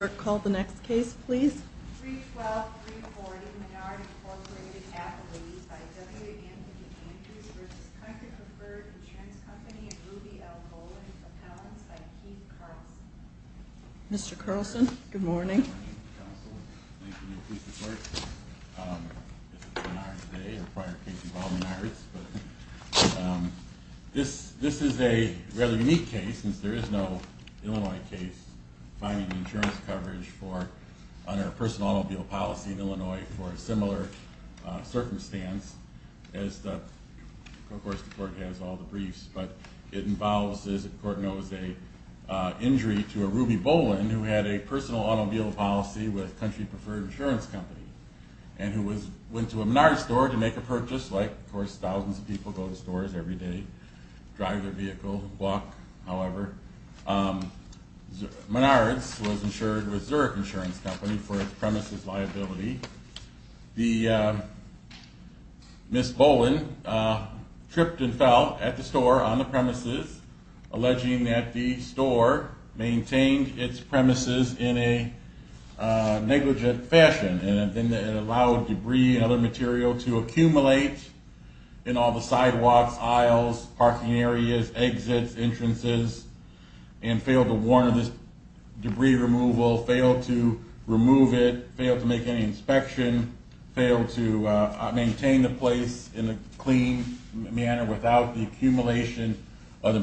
Mr. Carlson, good morning. Good morning, counsel. Thank you for your police support. This is Bernard today, a prior case involving NARDS. This is a rather unique case, since there is no Illinois case finding insurance coverage under personal automobile policy in Illinois for a similar circumstance. Of course the court has all the briefs, but it involves, as the court knows, an injury to a Ruby Boland who had a personal automobile policy with Country Preferred Insurance Company and who went to a Menard's store to make a purchase, like of course thousands of people go to stores every day, drive their vehicle, walk, however. Menard's was insured with Zurich Insurance Company for its premises liability. Ms. Boland tripped and fell at the store on the premises, alleging that the store maintained its premises in a negligent fashion and allowed debris and other material to accumulate in all the sidewalks, aisles, parking areas, exits, entrances, and failed to warn of this debris removal, failed to remove it, failed to make any inspection, failed to maintain the place in a clean manner without the accumulation of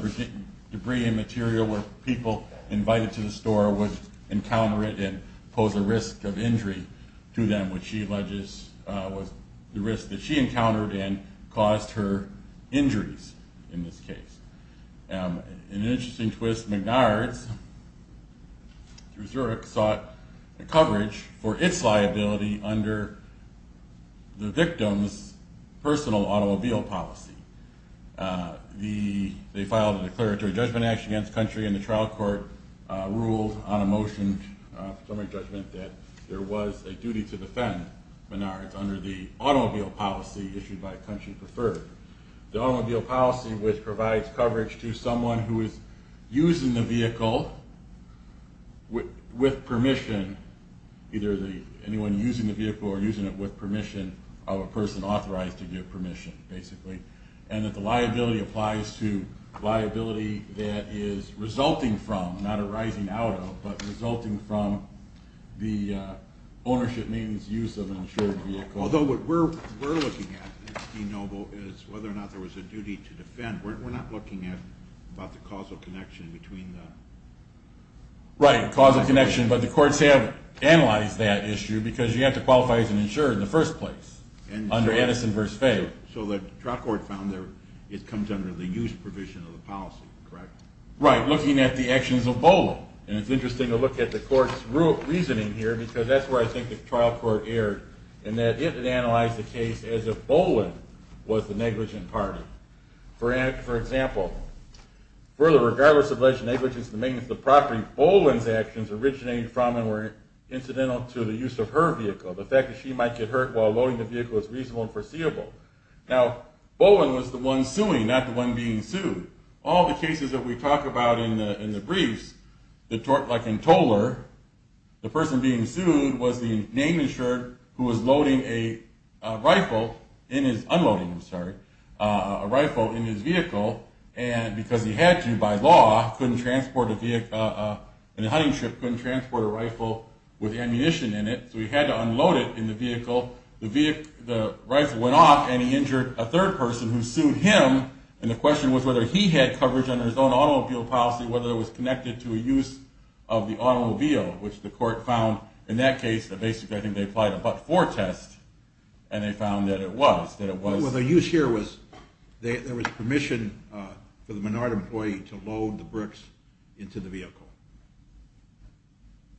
debris and material where people invited to the store would encounter it and pose a risk of injury to them, which she alleges was the risk that she encountered and caused her injuries in this case. In an interesting twist, Menard's, through Zurich, sought coverage for its liability under the victim's personal automobile policy. They filed a declaratory judgment against Country and the trial court ruled on a motion for summary judgment that there was a duty to defend Menard's under the automobile policy issued by Country Preferred. The automobile policy which provides coverage to someone who is using the vehicle with permission, either anyone using the vehicle or using it with permission of a person authorized to give permission, basically. And that the liability applies to liability that is resulting from, not arising out of, but resulting from the ownership, maintenance, use of an insured vehicle. Although what we're looking at, Dean Noble, is whether or not there was a duty to defend. We're not looking at the causal connection between the... Right, causal connection, but the courts have analyzed that issue because you have to qualify as an insurer in the first place under Edison v. Fay. So the trial court found it comes under the use provision of the policy, correct? Right, looking at the actions of Boland. And it's interesting to look at the court's reasoning here because that's where I think the trial court erred, in that it had analyzed the case as if Boland was the negligent party. For example, for the regardless of negligence in the maintenance of the property, Boland's actions originated from and were incidental to the use of her vehicle. The fact that she might get hurt while loading the vehicle is reasonable and foreseeable. Now Boland was the one suing, not the one being sued. All the cases that we talk about in the briefs, like in Toler, the person being sued was the name insured who was loading a rifle, unloading, sorry, a rifle in his vehicle, and because he had to by law, couldn't transport a vehicle in a hunting trip, couldn't transport a rifle with ammunition in it, so he had to unload it in the vehicle. The rifle went off and he injured a third person who sued him, and the question was whether he had coverage under his own automobile policy, whether it was connected to a use of the automobile, which the court found in that case, basically I think they applied a but-for test, and they found that it was. The use here was, there was permission for the Menard employee to load the bricks into the vehicle.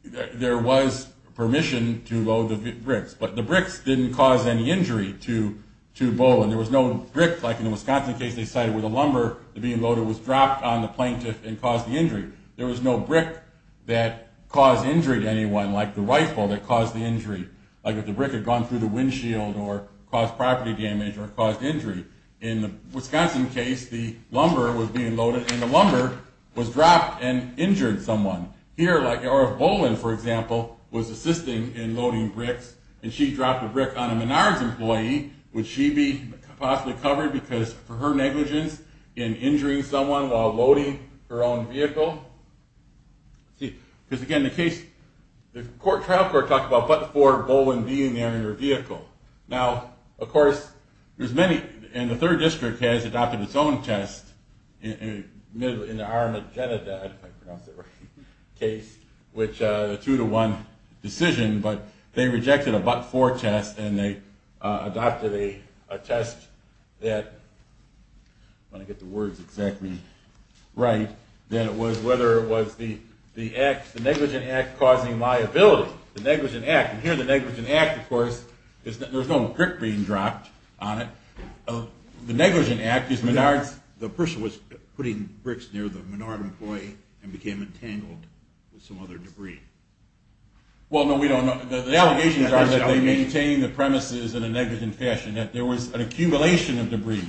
There was permission to load the bricks, but the bricks didn't cause any injury to Boland. There was no brick, like in the Wisconsin case, they cited where the lumber being loaded was dropped on the plaintiff and caused the injury. There was no brick that caused injury to anyone, like the rifle that caused the injury, like if the brick had gone through the windshield or caused property damage or caused injury. In the Wisconsin case, the lumber was being loaded and the lumber was dropped and injured someone. Here, like if Boland, for example, was assisting in loading bricks and she dropped a brick on a Menard's employee, would she be possibly covered for her negligence in injuring someone while loading her own vehicle? Because again, the trial court talked about but-for Boland being there in her vehicle. Now, of course, there's many, and the third district has adopted its own test in the Armageddon case, which is a two-to-one decision, but they rejected a but-for test and they adopted a test that, if I can get the words exactly right, that was whether it was the negligent act causing liability. The negligent act, and here the negligent act, of course, there's no brick being dropped on it. The negligent act is Menard's... The person was putting bricks near the Menard employee and became entangled with some other debris. Well, no, we don't know. The allegations are that they maintained the premises in a negligent fashion, that there was an accumulation of debris.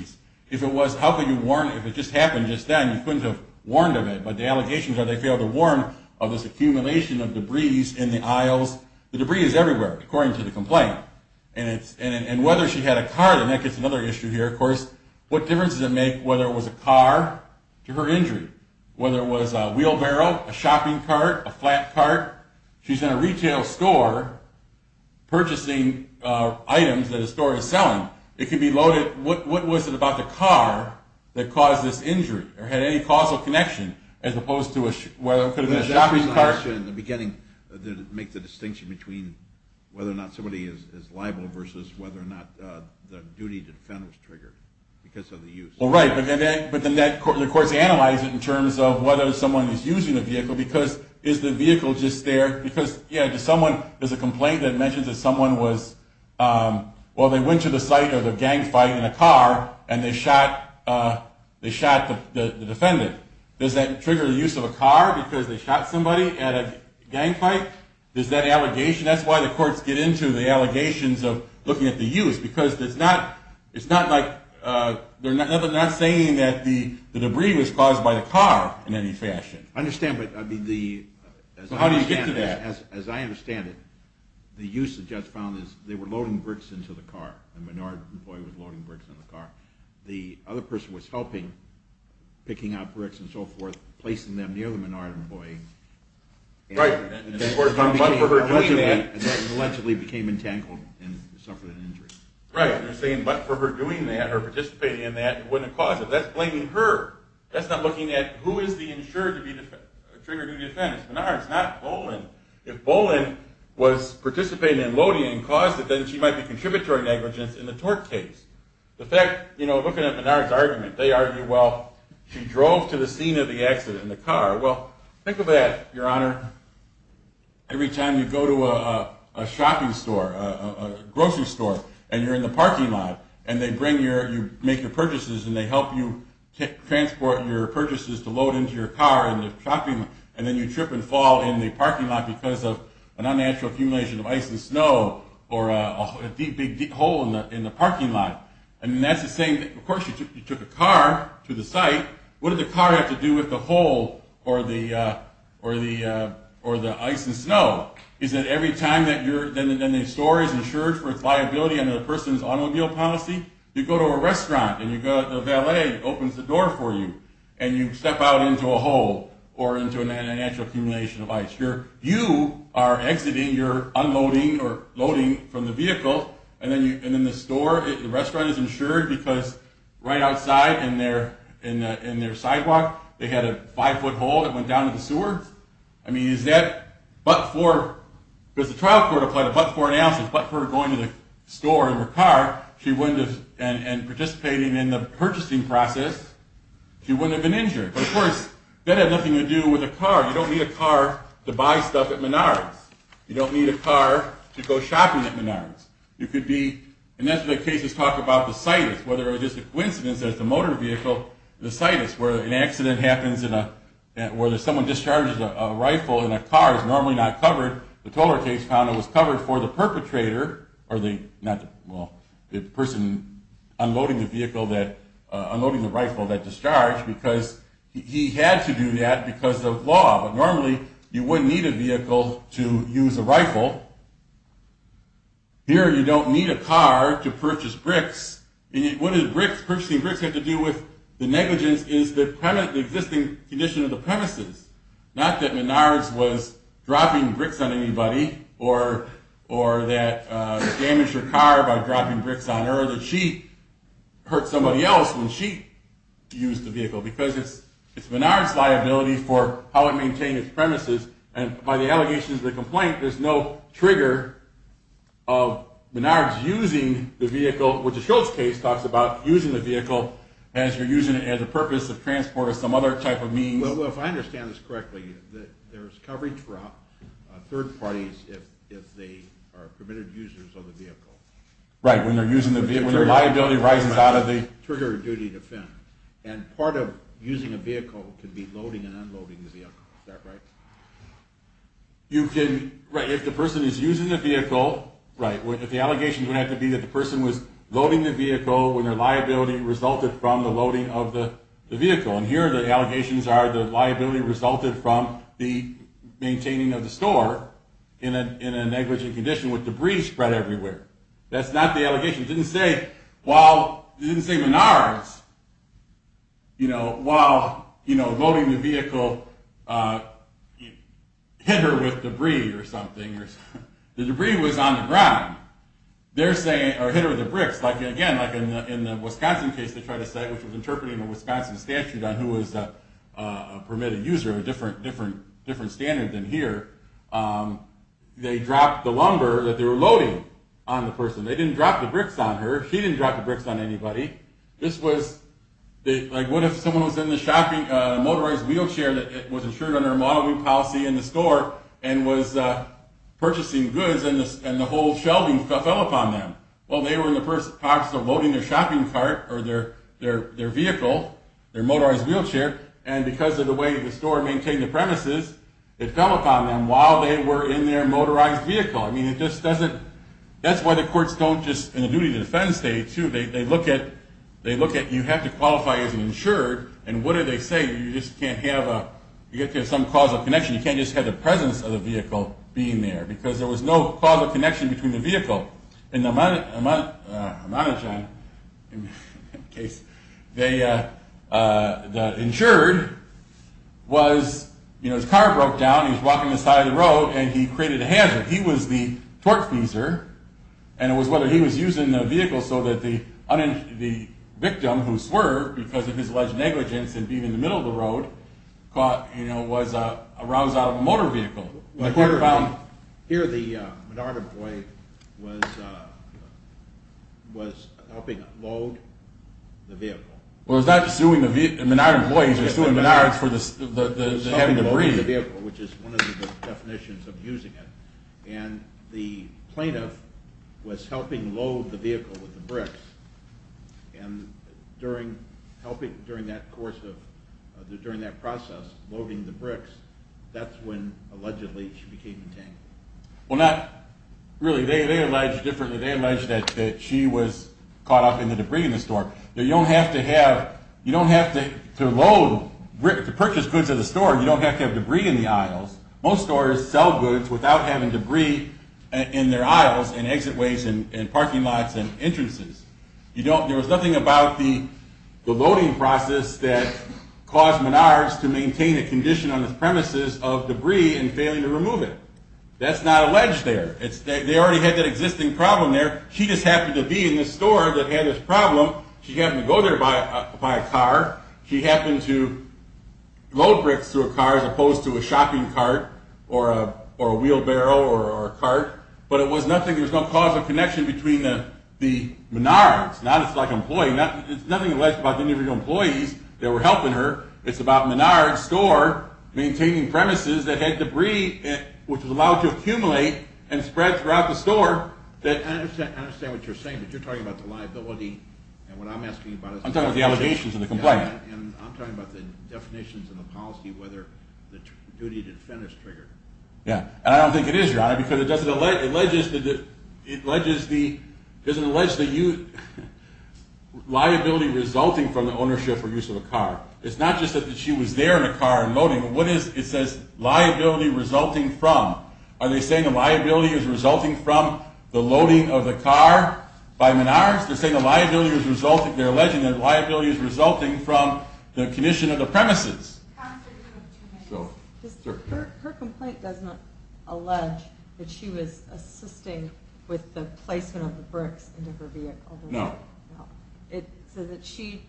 If it was, how could you warn, if it just happened just then, you couldn't have warned of it, but the allegations are they failed to warn of this because the debris is everywhere, according to the complaint, and whether she had a car, and that gets another issue here, of course. What difference does it make whether it was a car to her injury, whether it was a wheelbarrow, a shopping cart, a flat cart? She's in a retail store purchasing items that a store is selling. It could be loaded. What was it about the car that caused this injury or had any causal connection as opposed to whether it could have been a shopping cart? In the beginning, did it make the distinction between whether or not somebody is liable versus whether or not the duty to defend was triggered because of the use? Well, right, but then the courts analyze it in terms of whether someone is using the vehicle because is the vehicle just there? Because, yeah, someone, there's a complaint that mentions that someone was, well, they went to the site of the gang fight in a car, and they shot the defendant. Does that trigger the use of a car because they shot somebody at a gang fight? Is that an allegation? That's why the courts get into the allegations of looking at the use because it's not like, they're not saying that the debris was caused by the car in any fashion. I understand, but I mean the... How do you get to that? As I understand it, the use the judge found is they were loading bricks into the car. A Menard employee was loading bricks into the car. The other person was helping, picking up bricks and so forth, placing them near the Menard employee. Right. Allegedly became entangled and suffered an injury. Right, but for her doing that or participating in that, it wouldn't have caused it. That's blaming her. That's not looking at who is the insured to be triggered to defend. Menard is not Boland. If Boland was participating in loading and caused it, then she might be contributory negligence in the tort case. The fact, you know, looking at Menard's argument, they argue, well, she drove to the scene of the accident in the car. Well, think of that, your honor. Every time you go to a shopping store, a grocery store, and you're in the parking lot, and they bring your, you make your purchases, and they help you transport your purchases to load into your car and then you trip and fall in the parking lot because of an unnatural accumulation of ice and snow or a deep, big hole in the parking lot. And that's the same, of course, you took a car to the site. What did the car have to do with the hole or the ice and snow? Is it every time that you're, then the store is insured for its liability under the person's automobile policy? You go to a restaurant, and the valet opens the door for you, and you step out into a hole or into an unnatural accumulation of ice. You are exiting, you're unloading or loading from the vehicle, and then the store, the restaurant is insured because right outside in their sidewalk, they had a five-foot hole that went down to the sewer? I mean, is that but for, does the trial court apply the but for analysis, but for going to the store in her car? She wouldn't have, and participating in the purchasing process, she wouldn't have been injured. But of course, that had nothing to do with a car. You don't need a car to buy stuff at Menards. You don't need a car to go shopping at Menards. You could be, and that's what the cases talk about the situs, whether it was just a coincidence that the motor vehicle, the situs where an accident happens in a, where someone discharges a rifle and a car is normally not covered. The Tolar case found it was covered for the perpetrator, or the, not the, well, the person unloading the vehicle that, unloading the rifle that discharged because he had to do that because of law. But normally, you wouldn't need a vehicle to use a rifle. Here, you don't need a car to purchase bricks. And what does bricks, purchasing bricks have to do with the negligence is the existing condition of the premises. Not that Menards was dropping bricks on anybody, or that damaged her car by dropping bricks on her, that she hurt somebody else when she used the vehicle. Because it's Menards' liability for how it maintained its premises. And by the allegations of the complaint, there's no trigger of Menards using the vehicle, which the Schultz case talks about using the vehicle as you're using it as a purpose of transport or some other type of means. Well, if I understand this correctly, there's coverage for third parties if they are permitted users of the vehicle. Right, when they're using the vehicle, when the liability rises out of the… Trigger of duty to defend. And part of using a vehicle could be loading and unloading the vehicle. Is that right? You can, right, if the person is using the vehicle, right, if the allegations would have to be that the person was loading the vehicle when their liability resulted from the loading of the vehicle. And here the allegations are the liability resulted from the maintaining of the store in a negligent condition with debris spread everywhere. That's not the allegation. It didn't say Menards, you know, while loading the vehicle hit her with debris or something. The debris was on the ground. They're saying, or hit her with the bricks, like again, like in the Wisconsin case they tried to say, which was interpreting the Wisconsin statute on who was a permitted user, a different standard than here. They dropped the lumber that they were loading on the person. They didn't drop the bricks on her. She didn't drop the bricks on anybody. This was, like what if someone was in the shopping, a motorized wheelchair that was insured under a modeling policy in the store and was purchasing goods and the whole shelving fell upon them? Well, they were in the first place loading their shopping cart or their vehicle, their motorized wheelchair, and because of the way the store maintained the premises, it fell upon them while they were in their motorized vehicle. I mean, it just doesn't, that's why the courts don't just, in the duty to defense state too, they look at, they look at you have to qualify as an insured, and what are they saying? You just can't have a, you have to have some causal connection. You can't just have the presence of the vehicle being there, because there was no causal connection between the vehicle. In the Amanochan case, the insured was, you know, his car broke down, he was walking the side of the road, and he created a hazard. He was the torque feeser, and it was whether he was using the vehicle so that the victim, who swerved because of his alleged negligence in being in the middle of the road, was aroused out of a motor vehicle. Here the Menard employee was helping load the vehicle. Well, he was not suing the Menard employee, he was suing Menard for the heavy debris. Which is one of the definitions of using it, and the plaintiff was helping load the vehicle with the bricks, and during that process, loading the bricks, that's when allegedly she became detained. Well, not really. They allege differently. They allege that she was caught up in the debris in the store. You don't have to have, you don't have to load, to purchase goods at a store, you don't have to have debris in the aisles. Most stores sell goods without having debris in their aisles and exit ways and parking lots and entrances. There was nothing about the loading process that caused Menard to maintain a condition on the premises of debris and failing to remove it. That's not alleged there. They already had that existing problem there. She just happened to be in the store that had this problem. She happened to go there by car. She happened to load bricks through a car as opposed to a shopping cart or a wheelbarrow or a cart. But it was nothing, there was no cause of connection between the Menards. Now it's like an employee, it's nothing alleged about the individual employees that were helping her. It's about Menard's store maintaining premises that had debris, which was allowed to accumulate and spread throughout the store. I understand what you're saying, but you're talking about the liability, and what I'm asking about is... I'm talking about the allegations and the complaint. I'm talking about the definitions and the policy, whether the duty to defend is triggered. Yeah, and I don't think it is, Your Honor, because it doesn't allege that you... Liability resulting from the ownership or use of a car. It's not just that she was there in a car and loading. It says liability resulting from. Are they saying the liability is resulting from the loading of the car by Menards? They're saying the liability is resulting, they're alleging the liability is resulting from the condition of the premises. Counsel, you have two minutes. Her complaint does not allege that she was assisting with the placement of the bricks into her vehicle. No. No. It says that she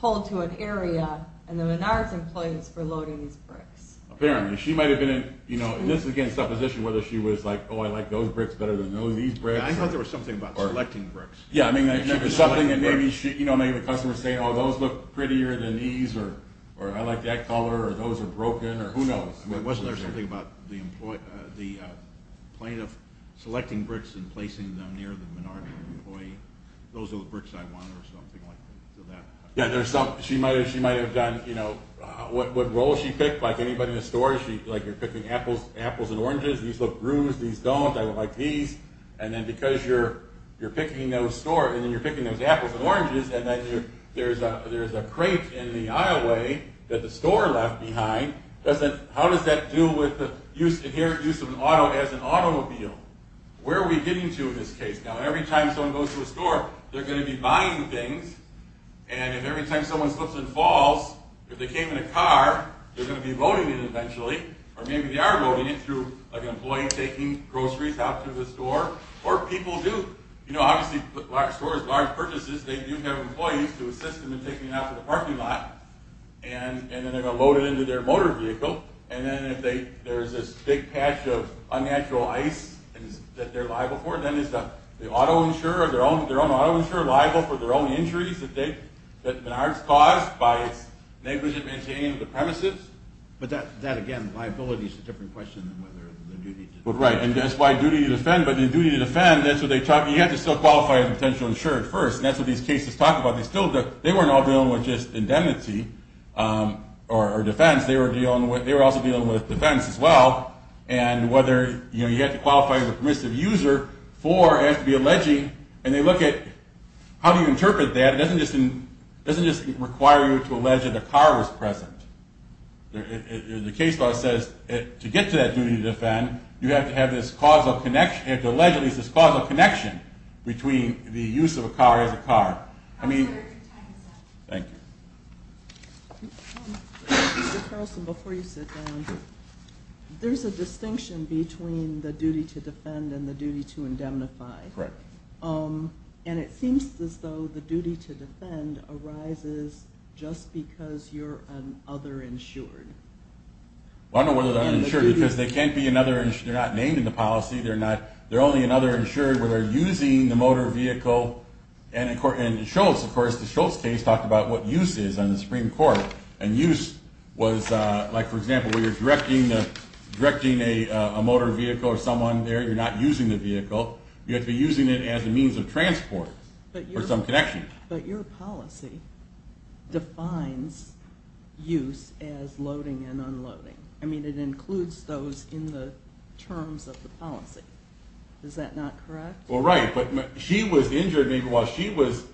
pulled to an area, and the Menards employees were loading these bricks. Apparently. She might have been in, you know, this is again supposition, whether she was like, Oh, I like those bricks better than all these bricks. I thought there was something about selecting bricks. Yeah, I mean, there's something that maybe, you know, maybe the customer is saying, Oh, those look prettier than these, or I like that color, or those are broken, or who knows. Wasn't there something about the plaintiff selecting bricks and placing them near the Menards employee? Those are the bricks I want, or something like that. Yeah, she might have done, you know, what role she picked, like anybody in the store, like you're picking apples and oranges, these look bruised, these don't, I don't like these, and then because you're picking those apples and oranges, and then there's a crate in the aisle way that the store left behind, how does that deal with the inherent use of an auto as an automobile? Where are we getting to in this case? Now, every time someone goes to a store, they're going to be buying things, and if every time someone slips and falls, if they came in a car, they're going to be loading it eventually, or maybe they are loading it through an employee taking groceries out to the store, or people do. You know, obviously, large stores, large purchases, they do have employees to assist them in taking it out to the parking lot, and then they're going to load it into their motor vehicle, and then if there's this big patch of unnatural ice that they're liable for, then is the auto insurer or their own auto insurer liable for their own injuries that aren't caused by its negligent maintaining of the premises? But that, again, liability is a different question than whether the duty to defend. Right, and that's why duty to defend, but the duty to defend, that's what they talk, you have to still qualify as a potential insurer at first, and that's what these cases talk about. They still, they weren't all dealing with just indemnity or defense, they were also dealing with defense as well, and whether, you know, you have to qualify as a permissive user for, you have to be alleging, and they look at how do you interpret that, it doesn't just require you to allege that a car was present. The case law says to get to that duty to defend, you have to have this causal connection, you have to allege at least this causal connection between the use of a car as a car. I mean, thank you. Mr. Carlson, before you sit down, there's a distinction between the duty to defend and the duty to indemnify. Correct. And it seems as though the duty to defend arises just because you're an other insured. Well, I don't know whether they're uninsured because they can't be another, they're not named in the policy, they're not, they're only another insured where they're using the motor vehicle, and in Schultz, of course, the Schultz case talked about what use is on the Supreme Court, and use was like, for example, where you're directing a motor vehicle or someone there, you're not using the vehicle, you have to be using it as a means of transport or some connection. But your policy defines use as loading and unloading. I mean, it includes those in the terms of the policy. Is that not correct? Well, right. But she was injured while she was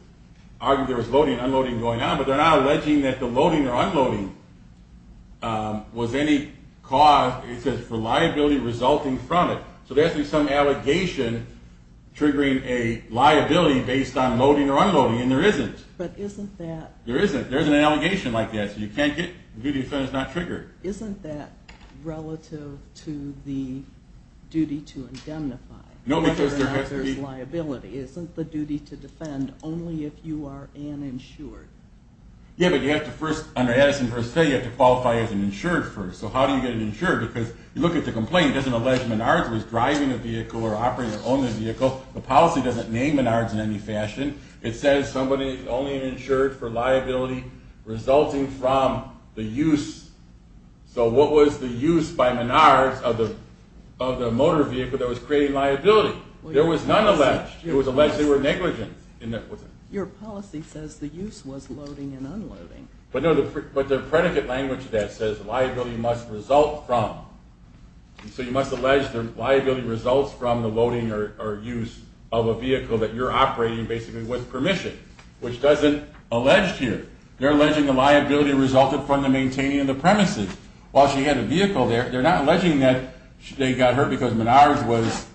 arguing there was loading and unloading going on, but they're not alleging that the loading or unloading was any cause, it says, for liability resulting from it. So there has to be some allegation triggering a liability based on loading or unloading, and there isn't. But isn't that – There isn't. There isn't an allegation like that, so you can't get the duty to defend is not triggered. Isn't that relative to the duty to indemnify? No, because there has to be – Liability isn't the duty to defend only if you are uninsured. Yeah, but you have to first, under Addison v. Fayette, you have to qualify as an insured first. So how do you get an insured? Because you look at the complaint, it doesn't allege Menards was driving a vehicle or operating or owning a vehicle. The policy doesn't name Menards in any fashion. It says somebody only insured for liability resulting from the use. So what was the use by Menards of the motor vehicle that was creating liability? There was none alleged. It was alleged they were negligent. Your policy says the use was loading and unloading. But no, but the predicate language of that says liability must result from. So you must allege the liability results from the loading or use of a vehicle that you're operating basically with permission, which doesn't allege here. They're alleging the liability resulted from the maintaining of the premises. While she had a vehicle there, they're not alleging that they got hurt because Menards was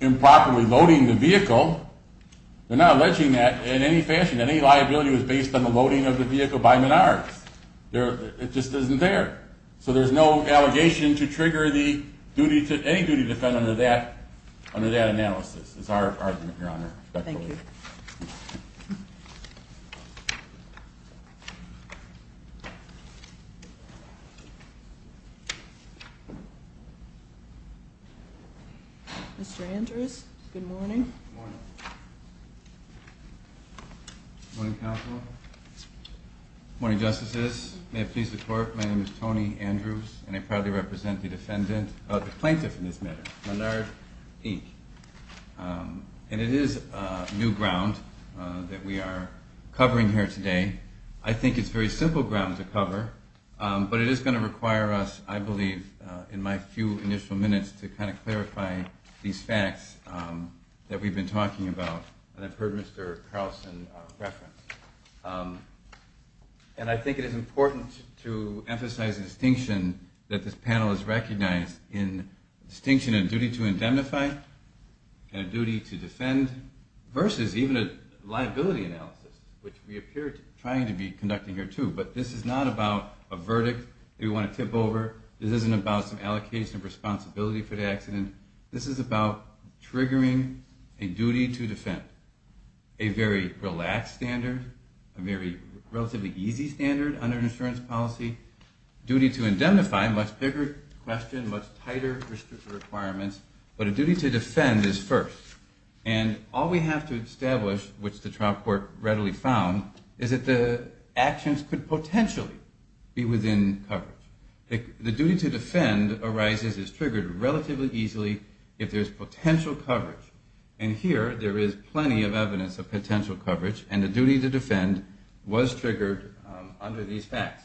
improperly loading the vehicle. They're not alleging that in any fashion. Any liability was based on the loading of the vehicle by Menards. It just isn't there. So there's no allegation to trigger any duty to defend under that analysis is our argument, Your Honor. Thank you. Thank you. Mr. Andrews, good morning. Good morning. Good morning, Counsel. Good morning, Justices. May it please the Court, my name is Tony Andrews, and I proudly represent the plaintiff in this matter, Menard E. And it is new ground that we are covering here today. I think it's very simple ground to cover, but it is going to require us, I believe, in my few initial minutes to kind of clarify these facts that we've been talking about and I've heard Mr. Carlson reference. And I think it is important to emphasize the distinction that this panel has recognized in distinction of duty to indemnify and duty to defend versus even a liability analysis, which we appear to be trying to be conducting here, too. But this is not about a verdict that we want to tip over. This isn't about some allocation of responsibility for the accident. This is about triggering a duty to defend. A very relaxed standard, a very relatively easy standard under an insurance policy, duty to indemnify, much bigger question, much tighter requirements, but a duty to defend is first. And all we have to establish, which the trial court readily found, is that the actions could potentially be within coverage. The duty to defend arises, is triggered relatively easily if there's potential coverage. And here, there is plenty of evidence of potential coverage, and the duty to defend was triggered under these facts.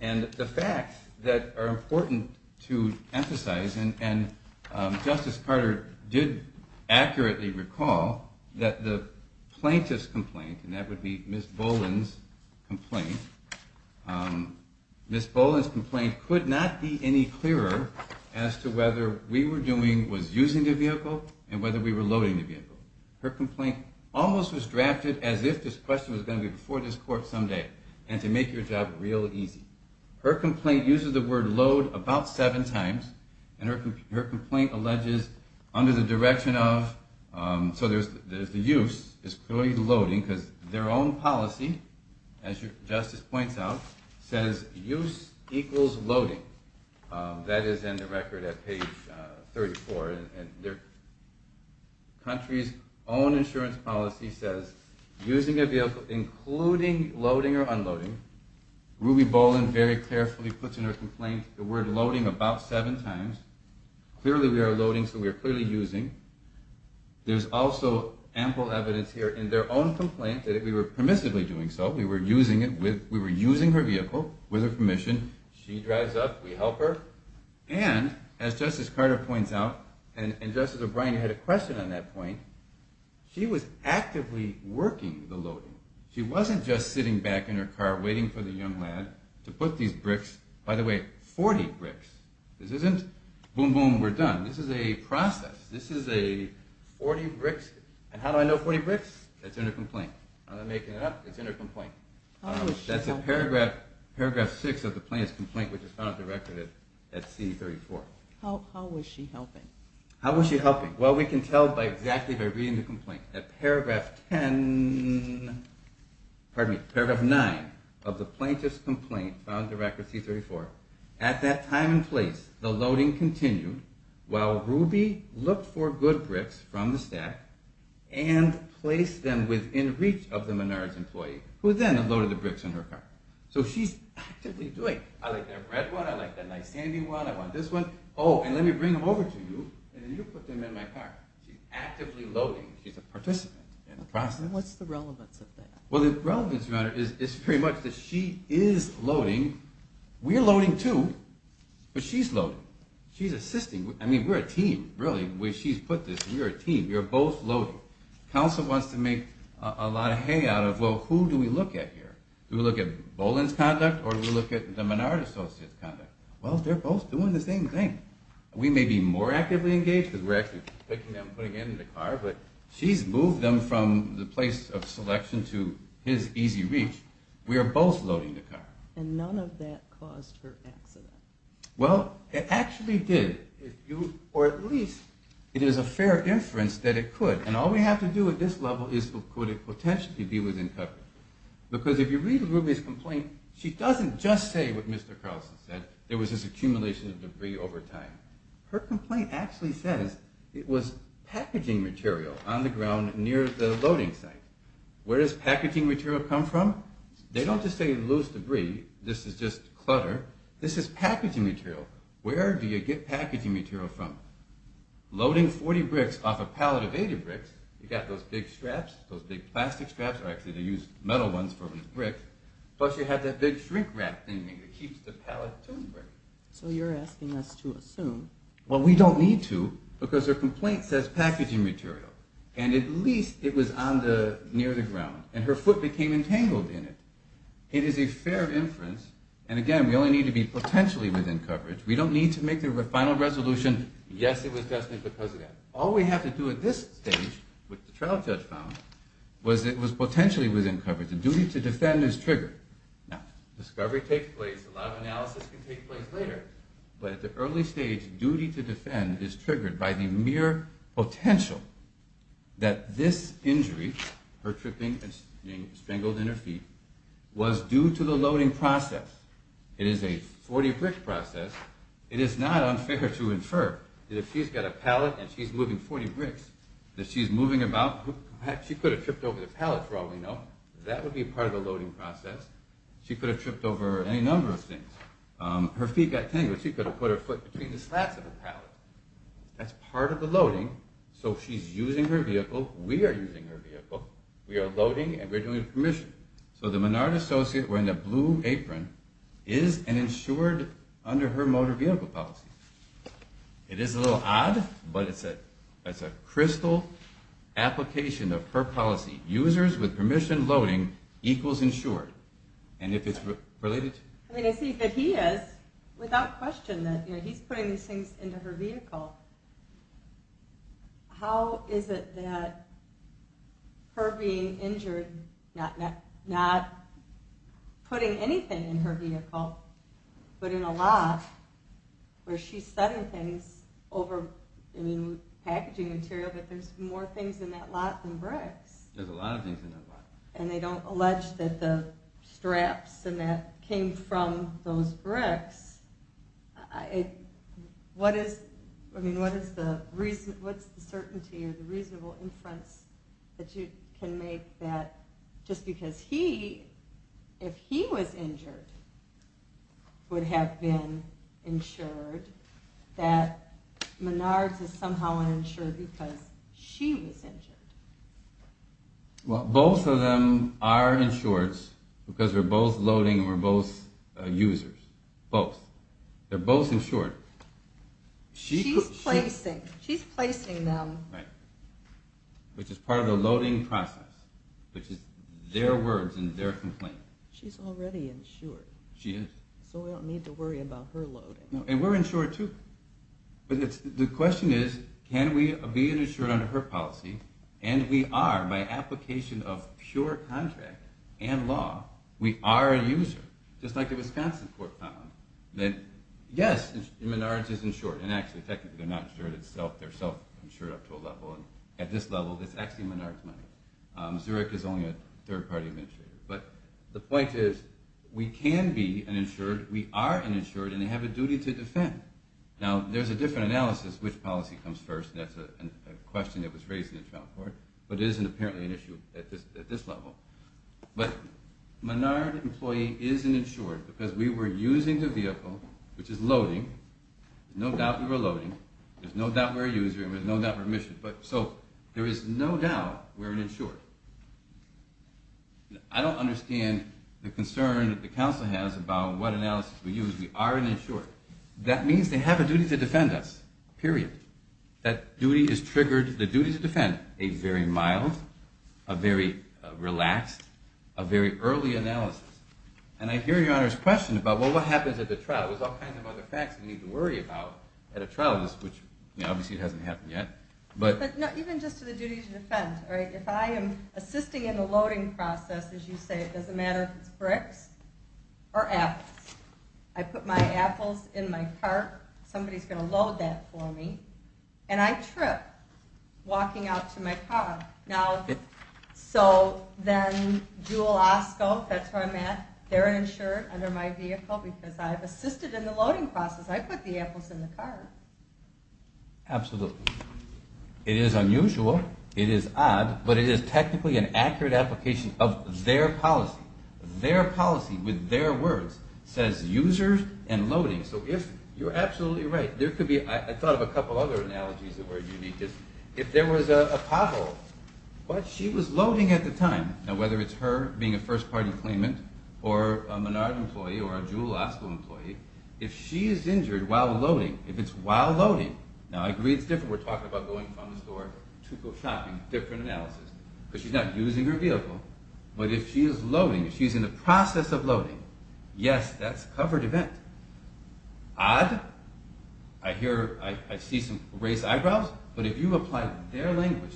And the facts that are important to emphasize, and Justice Carter did accurately recall that the plaintiff's complaint, and that would be Ms. Boland's complaint, Ms. Boland's complaint could not be any clearer as to whether we were doing, was using the vehicle, and whether we were loading the vehicle. Her complaint almost was drafted as if this question was going to be before this court someday and to make your job real easy. Her complaint uses the word load about seven times, and her complaint alleges under the direction of, so there's the use, is clearly loading, because their own policy, as Justice points out, says use equals loading. That is in the record at page 34, and their country's own insurance policy says using a vehicle including loading or unloading. Ruby Boland very carefully puts in her complaint the word loading about seven times. Clearly we are loading, so we are clearly using. There's also ample evidence here in their own complaint that we were permissively doing so. We were using her vehicle with her permission. She drives up, we help her, and as Justice Carter points out, and Justice O'Brien had a question on that point, she was actively working the loading. She wasn't just sitting back in her car waiting for the young lad to put these bricks, by the way, 40 bricks. This isn't boom, boom, we're done. This is a process. This is a 40 bricks, and how do I know 40 bricks? That's in her complaint. I'm not making it up. It's in her complaint. That's in paragraph six of the plaintiff's complaint, which is found in the record at C34. How was she helping? How was she helping? Well, we can tell by exactly by reading the complaint. At paragraph ten, pardon me, paragraph nine of the plaintiff's complaint found in the record C34, at that time and place, the loading continued while Ruby looked for good bricks from the stack and placed them within reach of the Menard's employee, who then loaded the bricks in her car. So she's actively doing it. I like that red one, I like that nice sandy one, I want this one. Oh, and let me bring them over to you, and you put them in my car. She's actively loading. She's a participant in the process. What's the relevance of that? Well, the relevance is pretty much that she is loading. I mean, we're loading, too, but she's loading. She's assisting. I mean, we're a team, really. She's put this, we're a team. We're both loading. Counsel wants to make a lot of hay out of, well, who do we look at here? Do we look at Boland's conduct or do we look at the Menard associate's conduct? Well, they're both doing the same thing. We may be more actively engaged because we're actually picking them, putting them in the car, but she's moved them from the place of selection to his easy reach. We are both loading the car. And none of that caused her accident. Well, it actually did. Or at least it is a fair inference that it could. And all we have to do at this level is could it potentially be within coverage. Because if you read Ruby's complaint, she doesn't just say what Mr. Carlson said, there was this accumulation of debris over time. Her complaint actually says it was packaging material on the ground near the loading site. Where does packaging material come from? They don't just say loose debris. This is just clutter. This is packaging material. Where do you get packaging material from? Loading 40 bricks off a pallet of 80 bricks, you've got those big straps, those big plastic straps, or actually they use metal ones for the bricks. Plus you have that big shrink wrap thing that keeps the pallet from breaking. So you're asking us to assume. Well, we don't need to because her complaint says packaging material. And at least it was near the ground. And her foot became entangled in it. It is a fair inference. And again, we only need to be potentially within coverage. We don't need to make the final resolution, yes, it was destined because of that. All we have to do at this stage, which the trial judge found, was it was potentially within coverage. The duty to defend is triggered. Now, discovery takes place. A lot of analysis can take place later. But at the early stage, duty to defend is triggered by the mere potential that this injury, her tripping and being strangled in her feet, was due to the loading process. It is a 40 brick process. It is not unfair to infer that if she's got a pallet and she's moving 40 bricks, that she's moving about, she could have tripped over the pallet for all we know. That would be part of the loading process. She could have tripped over any number of things. Her feet got tangled. She could have put her foot between the slats of the pallet. That's part of the loading. So she's using her vehicle. We are using her vehicle. We are loading and we're doing permission. So the Menard associate wearing the blue apron is an insured under her motor vehicle policy. It is a little odd, but it's a crystal application of her policy. Users with permission loading equals insured. And if it's related to... I see that he is, without question. He's putting these things into her vehicle. How is it that her being injured, not putting anything in her vehicle, but in a lot where she's setting things over packaging material, but there's more things in that lot than bricks. There's a lot of things in that lot. And they don't allege that the straps and that came from those bricks. What is the reason, what's the certainty or the reasonable inference that you can make that just because he, if he was injured, would have been insured. That Menard is somehow insured because she was injured. Well, both of them are insured because we're both loading and we're both users. Both. They're both insured. She's placing them. Right. Which is part of the loading process, which is their words and their complaint. She's already insured. She is. So we don't need to worry about her loading. And we're insured too. The question is, can we be insured under her policy? And we are, by application of pure contract and law, we are a user. Just like the Wisconsin court found that yes, Menard is insured. And actually, technically, they're not insured. They're self-insured up to a level. At this level, it's actually Menard's money. Zurich is only a third-party administrator. But the point is, we can be uninsured, we are uninsured, and they have a duty to defend. Now, there's a different analysis, which policy comes first. That's a question that was raised in the trial court. But it isn't apparently an issue at this level. But Menard employee is uninsured because we were using the vehicle, which is loading. No doubt we were loading. There's no doubt we're a user and there's no doubt we're a mission. So there is no doubt we're uninsured. I don't understand the concern that the counsel has about what analysis we use. We are uninsured. That means they have a duty to defend us, period. That duty is triggered, the duty to defend, a very mild, a very relaxed, a very early analysis. And I hear Your Honor's question about, well, what happens at the trial? There's all kinds of other facts we need to worry about at a trial, which obviously hasn't happened yet. Even just to the duty to defend, if I am assisting in the loading process, as you say, it doesn't matter if it's bricks or apples. I put my apples in my cart. Somebody is going to load that for me. And I trip walking out to my car. Now, so then Jewel Osco, that's where I'm at, they're insured under my vehicle because I've assisted in the loading process. I put the apples in the cart. Absolutely. It is unusual. It is odd. But it is technically an accurate application of their policy. Their policy, with their words, says users and loading. So you're absolutely right. I thought of a couple other analogies that were unique. If there was a pothole, but she was loading at the time. Now, whether it's her being a first-party claimant or a Menard employee or a Jewel Osco employee, if she is injured while loading, if it's while loading. Now, I agree it's different. We're talking about going from the store to go shopping. Different analysis. Because she's not using her vehicle. But if she is loading, if she's in the process of loading, yes, that's a covered event. Odd? I see some raised eyebrows. But if you apply their language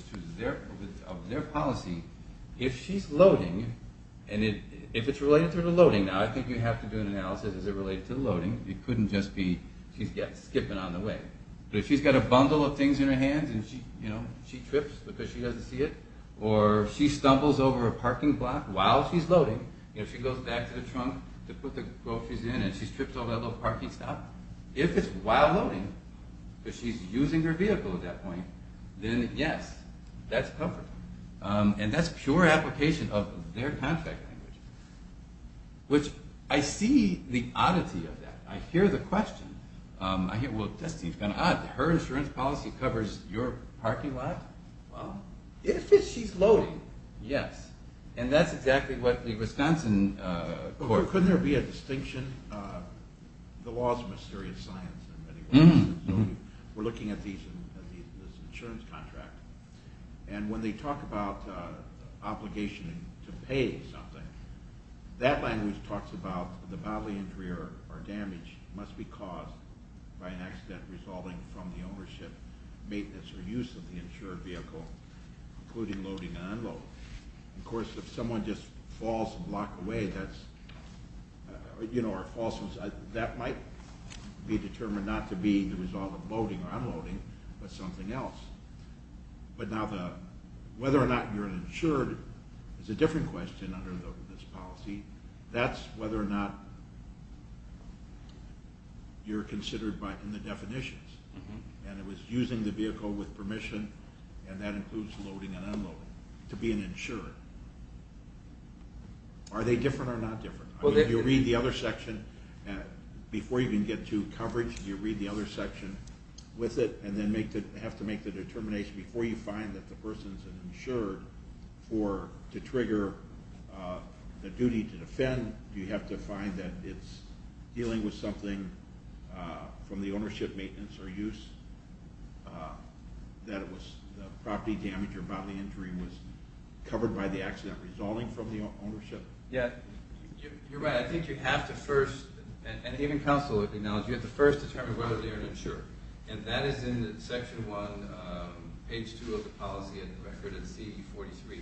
of their policy, if she's loading, and if it's related to her loading. Now, I think you have to do an analysis. Is it related to loading? It couldn't just be she's skipping on the way. But if she's got a bundle of things in her hands and she trips because she doesn't see it, or she stumbles over a parking block while she's loading, and she goes back to the trunk to put the groceries in, and she trips over that little parking stop, if it's while loading, because she's using her vehicle at that point, then, yes, that's covered. And that's pure application of their contract language. Which I see the oddity of that. I hear the question. I hear, well, that seems kind of odd. Her insurance policy covers your parking lot? Well, if she's loading, yes. And that's exactly what the Wisconsin court... Couldn't there be a distinction? The law's a mysterious science in many ways. We're looking at these in this insurance contract. And when they talk about obligation to pay something, that language talks about the bodily injury or damage must be caused by an accident resulting from the ownership, maintenance, or use of the insured vehicle, including loading and unloading. Of course, if someone just falls and blocks away, that might be determined not to be the result of loading or unloading, but something else. But now whether or not you're insured is a different question under this policy. That's whether or not you're considered in the definitions. And it was using the vehicle with permission, and that includes loading and unloading, to be an insured. Are they different or not different? If you read the other section, before you can get to coverage, if you read the other section with it and then have to make the determination before you find that the person's insured to trigger the duty to defend, do you have to find that it's dealing with something from the ownership, maintenance, or use, that it was property damage or bodily injury was covered by the accident resulting from the ownership? Yeah, you're right. I think you have to first, and even counsel acknowledge, you have to first determine whether or not you're an insured. And that is in Section 1, page 2 of the policy, in the record in CE 43.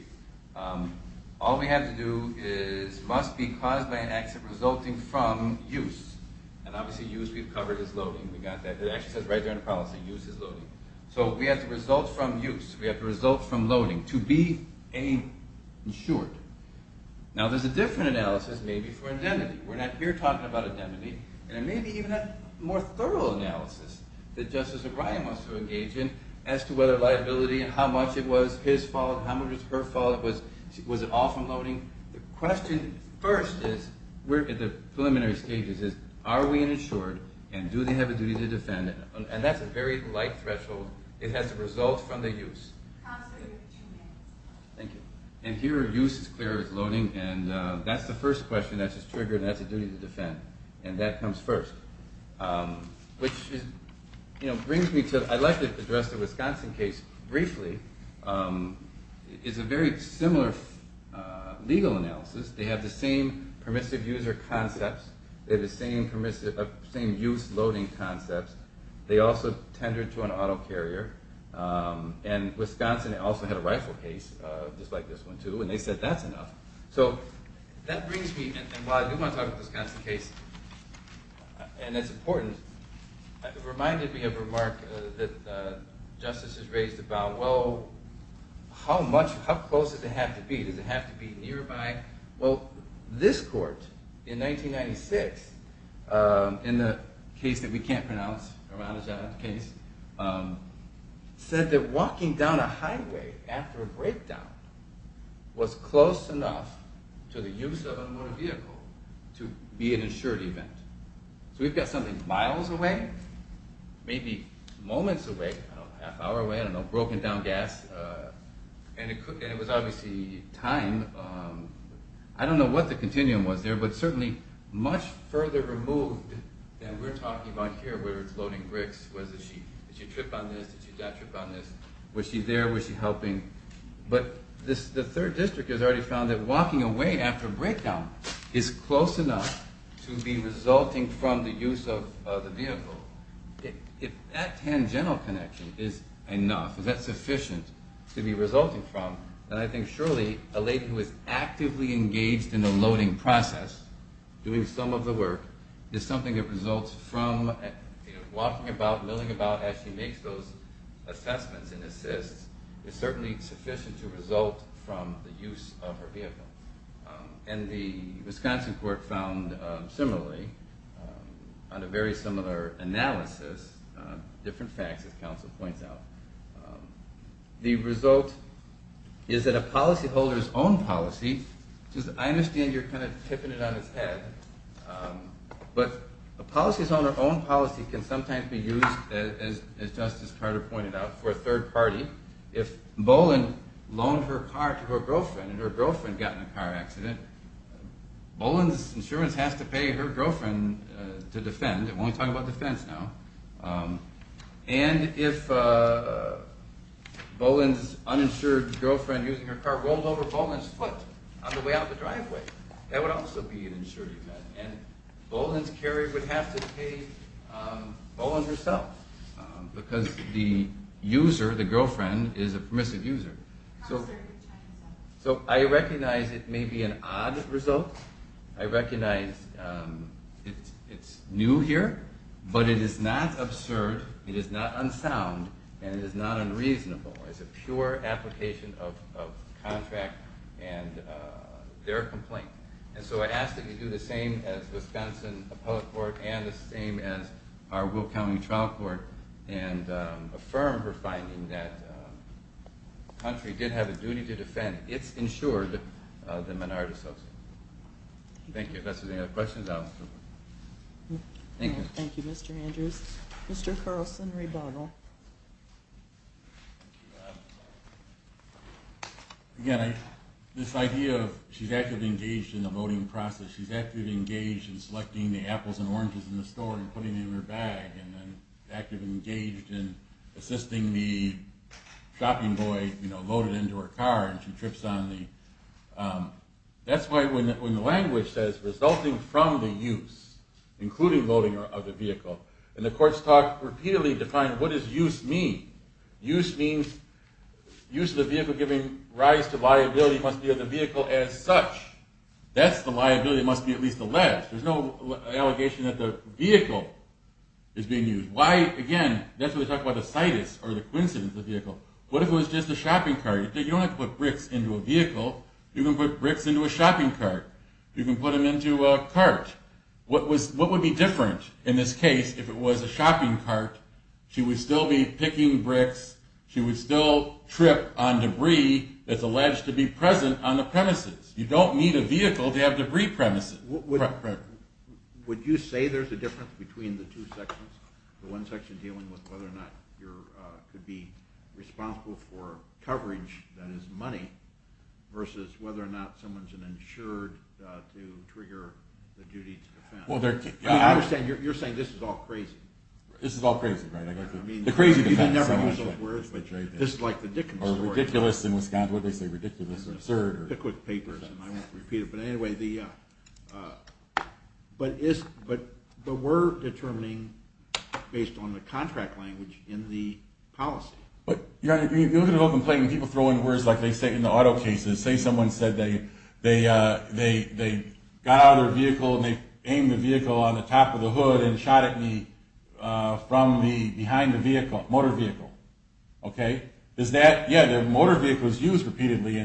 All we have to do is must be caused by an accident resulting from use. And obviously use we've covered as loading. We got that. It actually says right there in the policy, use as loading. So we have to result from use. We have to result from loading to be an insured. Now there's a different analysis maybe for indemnity. We're not here talking about indemnity. And maybe even a more thorough analysis that Justice O'Brien wants to engage in as to whether liability and how much it was his fault, how much it was her fault, was it all from loading. The question first is, we're at the preliminary stages, is are we an insured and do they have a duty to defend? And that's a very light threshold. It has to result from the use. Counsel, you have two minutes. Thank you. And here use is clear as loading. And that's the first question that's just triggered. And that's a duty to defend. And that comes first. Which brings me to, I'd like to address the Wisconsin case briefly. It's a very similar legal analysis. They have the same permissive user concepts. They have the same use loading concepts. They also tendered to an auto carrier. And Wisconsin also had a rifle case just like this one too. And they said that's enough. So that brings me, and while I do want to talk about the Wisconsin case, and it's important, it reminded me of a remark that Justice has raised about, well, how much, how close does it have to be? Does it have to be nearby? Well, this court in 1996, in the case that we can't pronounce, a Ronald John case, said that walking down a highway after a breakdown was close enough to the use of a motor vehicle to be an insured event. So we've got something miles away, maybe moments away, a half hour away, I don't know, broken down gas. And it was obviously time. I don't know what the continuum was there, but certainly much further removed than we're talking about here where it's loading bricks. Did she trip on this? Did she not trip on this? Was she there? Was she helping? But the 3rd District has already found that walking away after a breakdown is close enough to be resulting from the use of the vehicle. If that tangential connection is enough, if that's sufficient to be resulting from, then I think surely a lady who is actively engaged in the loading process, doing some of the work, is something that results from walking about, milling about as she makes those assessments and assists, is certainly sufficient to result from the use of her vehicle. And the Wisconsin court found similarly, on a very similar analysis, different facts as counsel points out, the result is that a policyholder's own policy, which I understand you're kind of tipping it on its head, but a policyholder's own policy can sometimes be used, as Justice Carter pointed out, for a third party. If Boland loaned her car to her girlfriend and her girlfriend got in a car accident, Boland's insurance has to pay her girlfriend to defend. We're only talking about defense now. And if Boland's uninsured girlfriend using her car rolled over Boland's foot on the way out the driveway, that would also be an insured event. And Boland's carrier would have to pay Boland herself, because the user, the girlfriend, is a permissive user. So I recognize it may be an odd result. I recognize it's new here, but it is not absurd, it is not unsound, and it is not unreasonable. It's a pure application of contract and their complaint. And so I ask that you do the same as Wisconsin Appellate Court and the same as our Will County Trial Court and affirm for finding that the country did have a duty to defend its insured, the minority society. Thank you. Unless there's any other questions, I'll move on. Thank you. Thank you, Mr. Andrews. Mr. Carlson, rebuttal. Again, this idea of she's actively engaged in the voting process, she's actively engaged in selecting the apples and oranges in the store and putting them in her bag, and then actively engaged in assisting the shopping boy, you know, load it into her car and she trips on the... That's why when the language says resulting from the use, including loading of the vehicle, and the court's talk repeatedly defined what does use mean. Use means use of the vehicle giving rise to liability must be of the vehicle as such. That's the liability, it must be at least alleged. There's no allegation that the vehicle is being used. Why, again, that's why we talk about the situs or the coincidence of the vehicle. What if it was just a shopping cart? You don't have to put bricks into a vehicle. You can put bricks into a shopping cart. You can put them into a cart. What would be different in this case if it was a shopping cart? She would still be picking bricks. She would still trip on debris that's alleged to be present on the premises. You don't need a vehicle to have debris premises. Would you say there's a difference between the two sections, the one section dealing with whether or not you could be responsible for coverage, that is money, versus whether or not someone's an insured to trigger the duty to defend? I understand you're saying this is all crazy. This is all crazy, right? The crazy defense. This is like the Dickens story. Or ridiculous in Wisconsin. What did they say, ridiculous or absurd? I won't repeat it. But anyway, but the word determining based on the contract language in the policy. You look at an open plate and people throw in words like they say in the auto cases. Say someone said they got out of their vehicle and they aimed the vehicle on the top of the hood and shot at me from behind the vehicle, motor vehicle. Okay? Yeah, the motor vehicle is used repeatedly.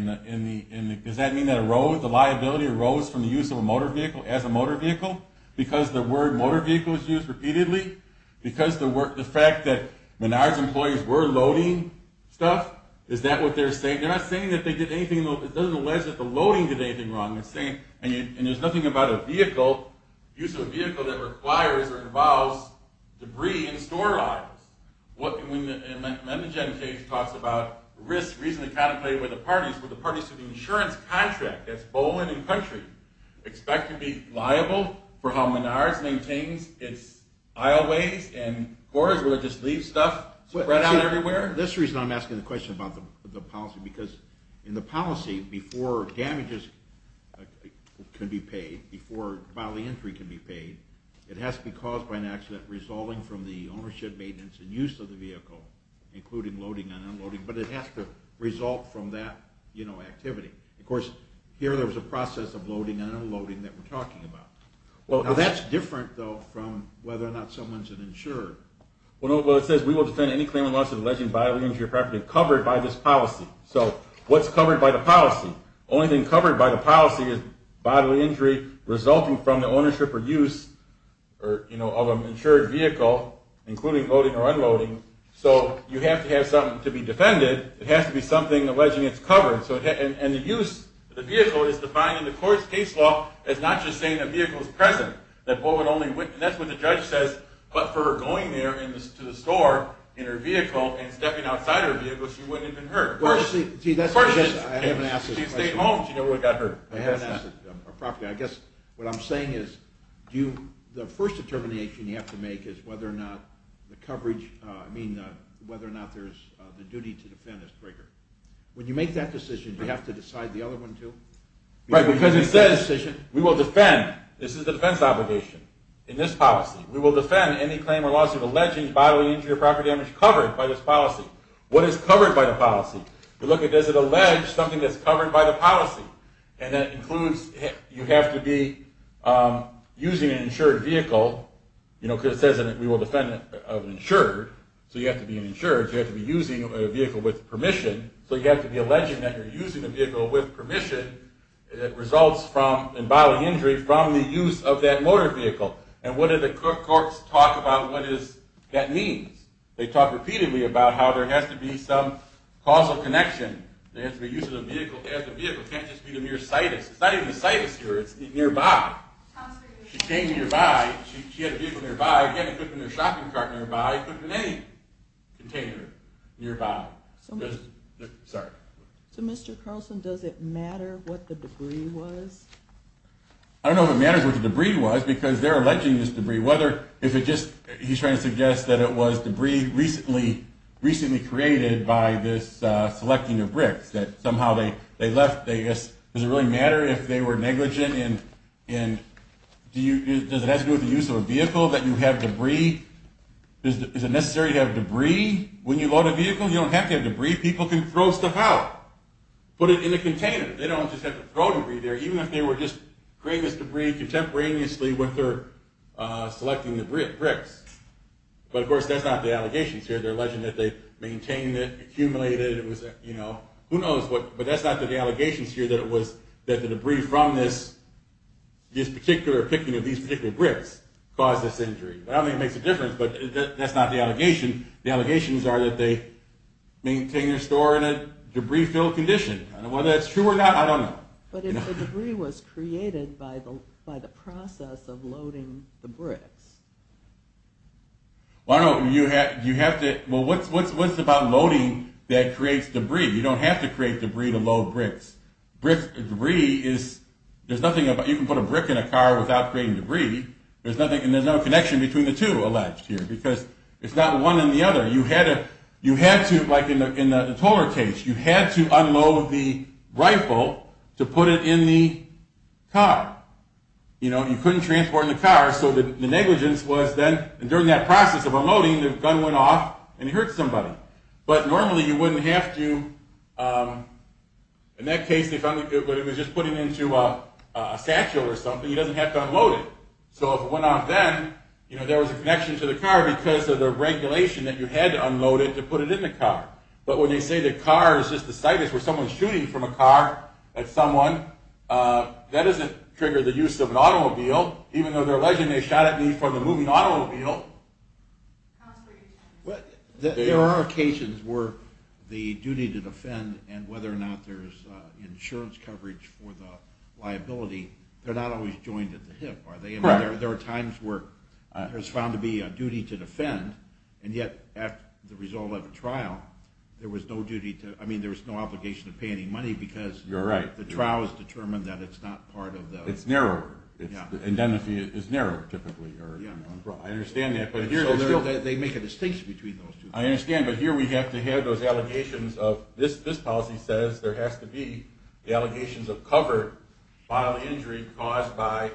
Does that mean the liability arose from the use of a motor vehicle as a motor vehicle? Because the word motor vehicle is used repeatedly? Because the fact that Menard's employees were loading stuff? Is that what they're saying? They're not saying that they did anything wrong. It doesn't aware us that the loading did anything wrong. And there's nothing about a vehicle, use of a vehicle, that requires or involves debris in store lines. When the Mendogen case talks about risk reasonably contemplated by the parties, would the parties to the insurance contract, that's Boland and Country, expect to be liable for how Menard's maintains its aisleways and corridors where they just leave stuff spread out everywhere? This is the reason I'm asking the question about the policy. Because in the policy, before damages can be paid, before bodily injury can be paid, it has to be caused by an accident resulting from the ownership, maintenance, and use of the vehicle, including loading and unloading. But it has to result from that activity. Of course, here there was a process of loading and unloading that we're talking about. That's different, though, from whether or not someone's an insurer. Well, it says, we will defend any claimant liable to bodily injury or property covered by this policy. So what's covered by the policy? The only thing covered by the policy is bodily injury resulting from the ownership or use of an insured vehicle, including loading or unloading. So you have to have something to be defended. It has to be something alleging it's covered. And the use of the vehicle is defined in the court's case law as not just saying a vehicle is present. And that's what the judge says. But for her going there to the store in her vehicle and stepping outside her vehicle, she wouldn't have been hurt. Of course, she'd stayed home. She never would have got hurt. I guess what I'm saying is, the first determination you have to make is whether or not the duty to defend is greater. When you make that decision, do you have to decide the other one, too? Right, because it says, we will defend. This is the defense obligation in this policy. We will defend any claim or lawsuit alleging bodily injury or property damage covered by this policy. What is covered by the policy? You look at, does it allege something that's covered by the policy? And that includes you have to be using an insured vehicle, you know, because it says we will defend an insured, so you have to be an insured. You have to be using a vehicle with permission, so you have to be alleging that you're using a vehicle with permission that results in bodily injury from the use of that motor vehicle. And what do the courts talk about what that means? They talk repeatedly about how there has to be some causal connection. There has to be use of the vehicle as a vehicle. It can't just be the mere sight of it. It's not even the sight of it here, it's nearby. She came nearby. She had a vehicle nearby. It couldn't have been a shopping cart nearby. It couldn't have been any container nearby. Sorry. So, Mr. Carlson, does it matter what the debris was? I don't know if it matters what the debris was, because they're alleging this debris. He's trying to suggest that it was debris recently created by this selecting of bricks, that somehow they left. Does it really matter if they were negligent? And does it have to do with the use of a vehicle that you have debris? Is it necessary to have debris? When you load a vehicle, you don't have to have debris. People can throw stuff out, put it in a container. They don't just have to throw debris there, even if they were just creating this debris contemporaneously with their selecting the bricks. But, of course, that's not the allegations here. They're alleging that they maintained it, accumulated it. Who knows? But that's not the allegations here, that the debris from this particular picking of these particular bricks caused this injury. I don't think it makes a difference, but that's not the allegation. The allegations are that they maintained their store in a debris-filled condition. Whether that's true or not, I don't know. But if the debris was created by the process of loading the bricks? Well, I don't know. You have to – well, what's about loading that creates debris? You don't have to create debris to load bricks. Debris is – there's nothing about – you can put a brick in a car without creating debris. There's nothing – and there's no connection between the two alleged here, because it's not one and the other. You had to – like in the Tolar case, you had to unload the rifle to put it in the car. You couldn't transport it in the car, so the negligence was then – and during that process of unloading, the gun went off and it hurt somebody. But normally you wouldn't have to – in that case, if it was just put into a satchel or something, you don't have to unload it. So if it went off then, you know, there was a connection to the car because of the regulation that you had to unload it to put it in the car. But when they say the car is just the situs where someone's shooting from a car at someone, that doesn't trigger the use of an automobile, even though they're alleging they shot at me from a moving automobile. There are occasions where the duty to defend and whether or not there's insurance coverage for the liability, they're not always joined at the hip, are they? There are times where it's found to be a duty to defend, and yet after the result of the trial, there was no duty to – I mean, there was no obligation to pay any money because the trial has determined that it's not part of the – It's narrower. Yeah. Identity is narrower, typically. Yeah. I understand that, but here – So they make a distinction between those two things. I understand, but here we have to have those allegations of – injury caused by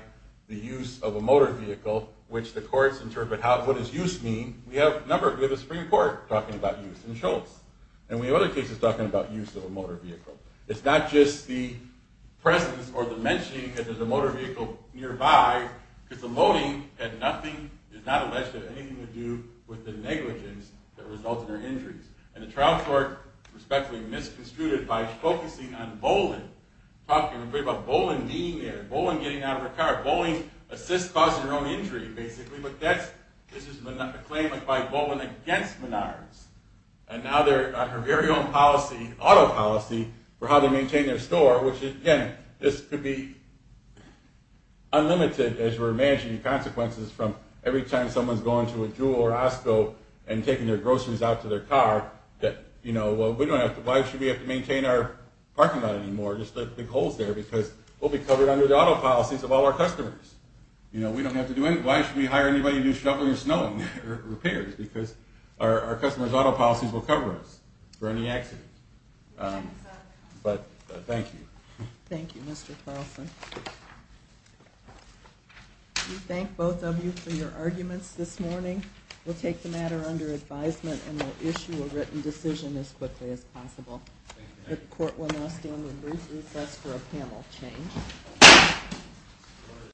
the use of a motor vehicle, which the courts interpret what does use mean. We have a number – we have a Supreme Court talking about use in Schultz, and we have other cases talking about use of a motor vehicle. It's not just the presence or the mentioning that there's a motor vehicle nearby because the loading had nothing – is not alleged to have anything to do with the negligence that results in their injuries. And the trial court respectfully misconstrued it by focusing on Boland, talking about Boland being there, Boland getting out of her car. Boland assists causing her own injury, basically. But that's – this is a claim by Boland against Menards. And now they're on her very own policy, auto policy, for how they maintain their store, which, again, this could be unlimited as we're managing the consequences from every time someone's going to a Jewel or Osco and taking their groceries out to their car, that, you know, well, we don't have to – why should we have to maintain our parking lot anymore? Just let the big holes there because we'll be covered under the auto policies of all our customers. You know, we don't have to do any – why should we hire anybody to do shoveling or snowing or repairs because our customers' auto policies will cover us for any accidents. But thank you. Thank you, Mr. Carlson. We thank both of you for your arguments this morning. We'll take the matter under advisement and we'll issue a written decision as quickly as possible. The court will now stand on brief recess for a panel change.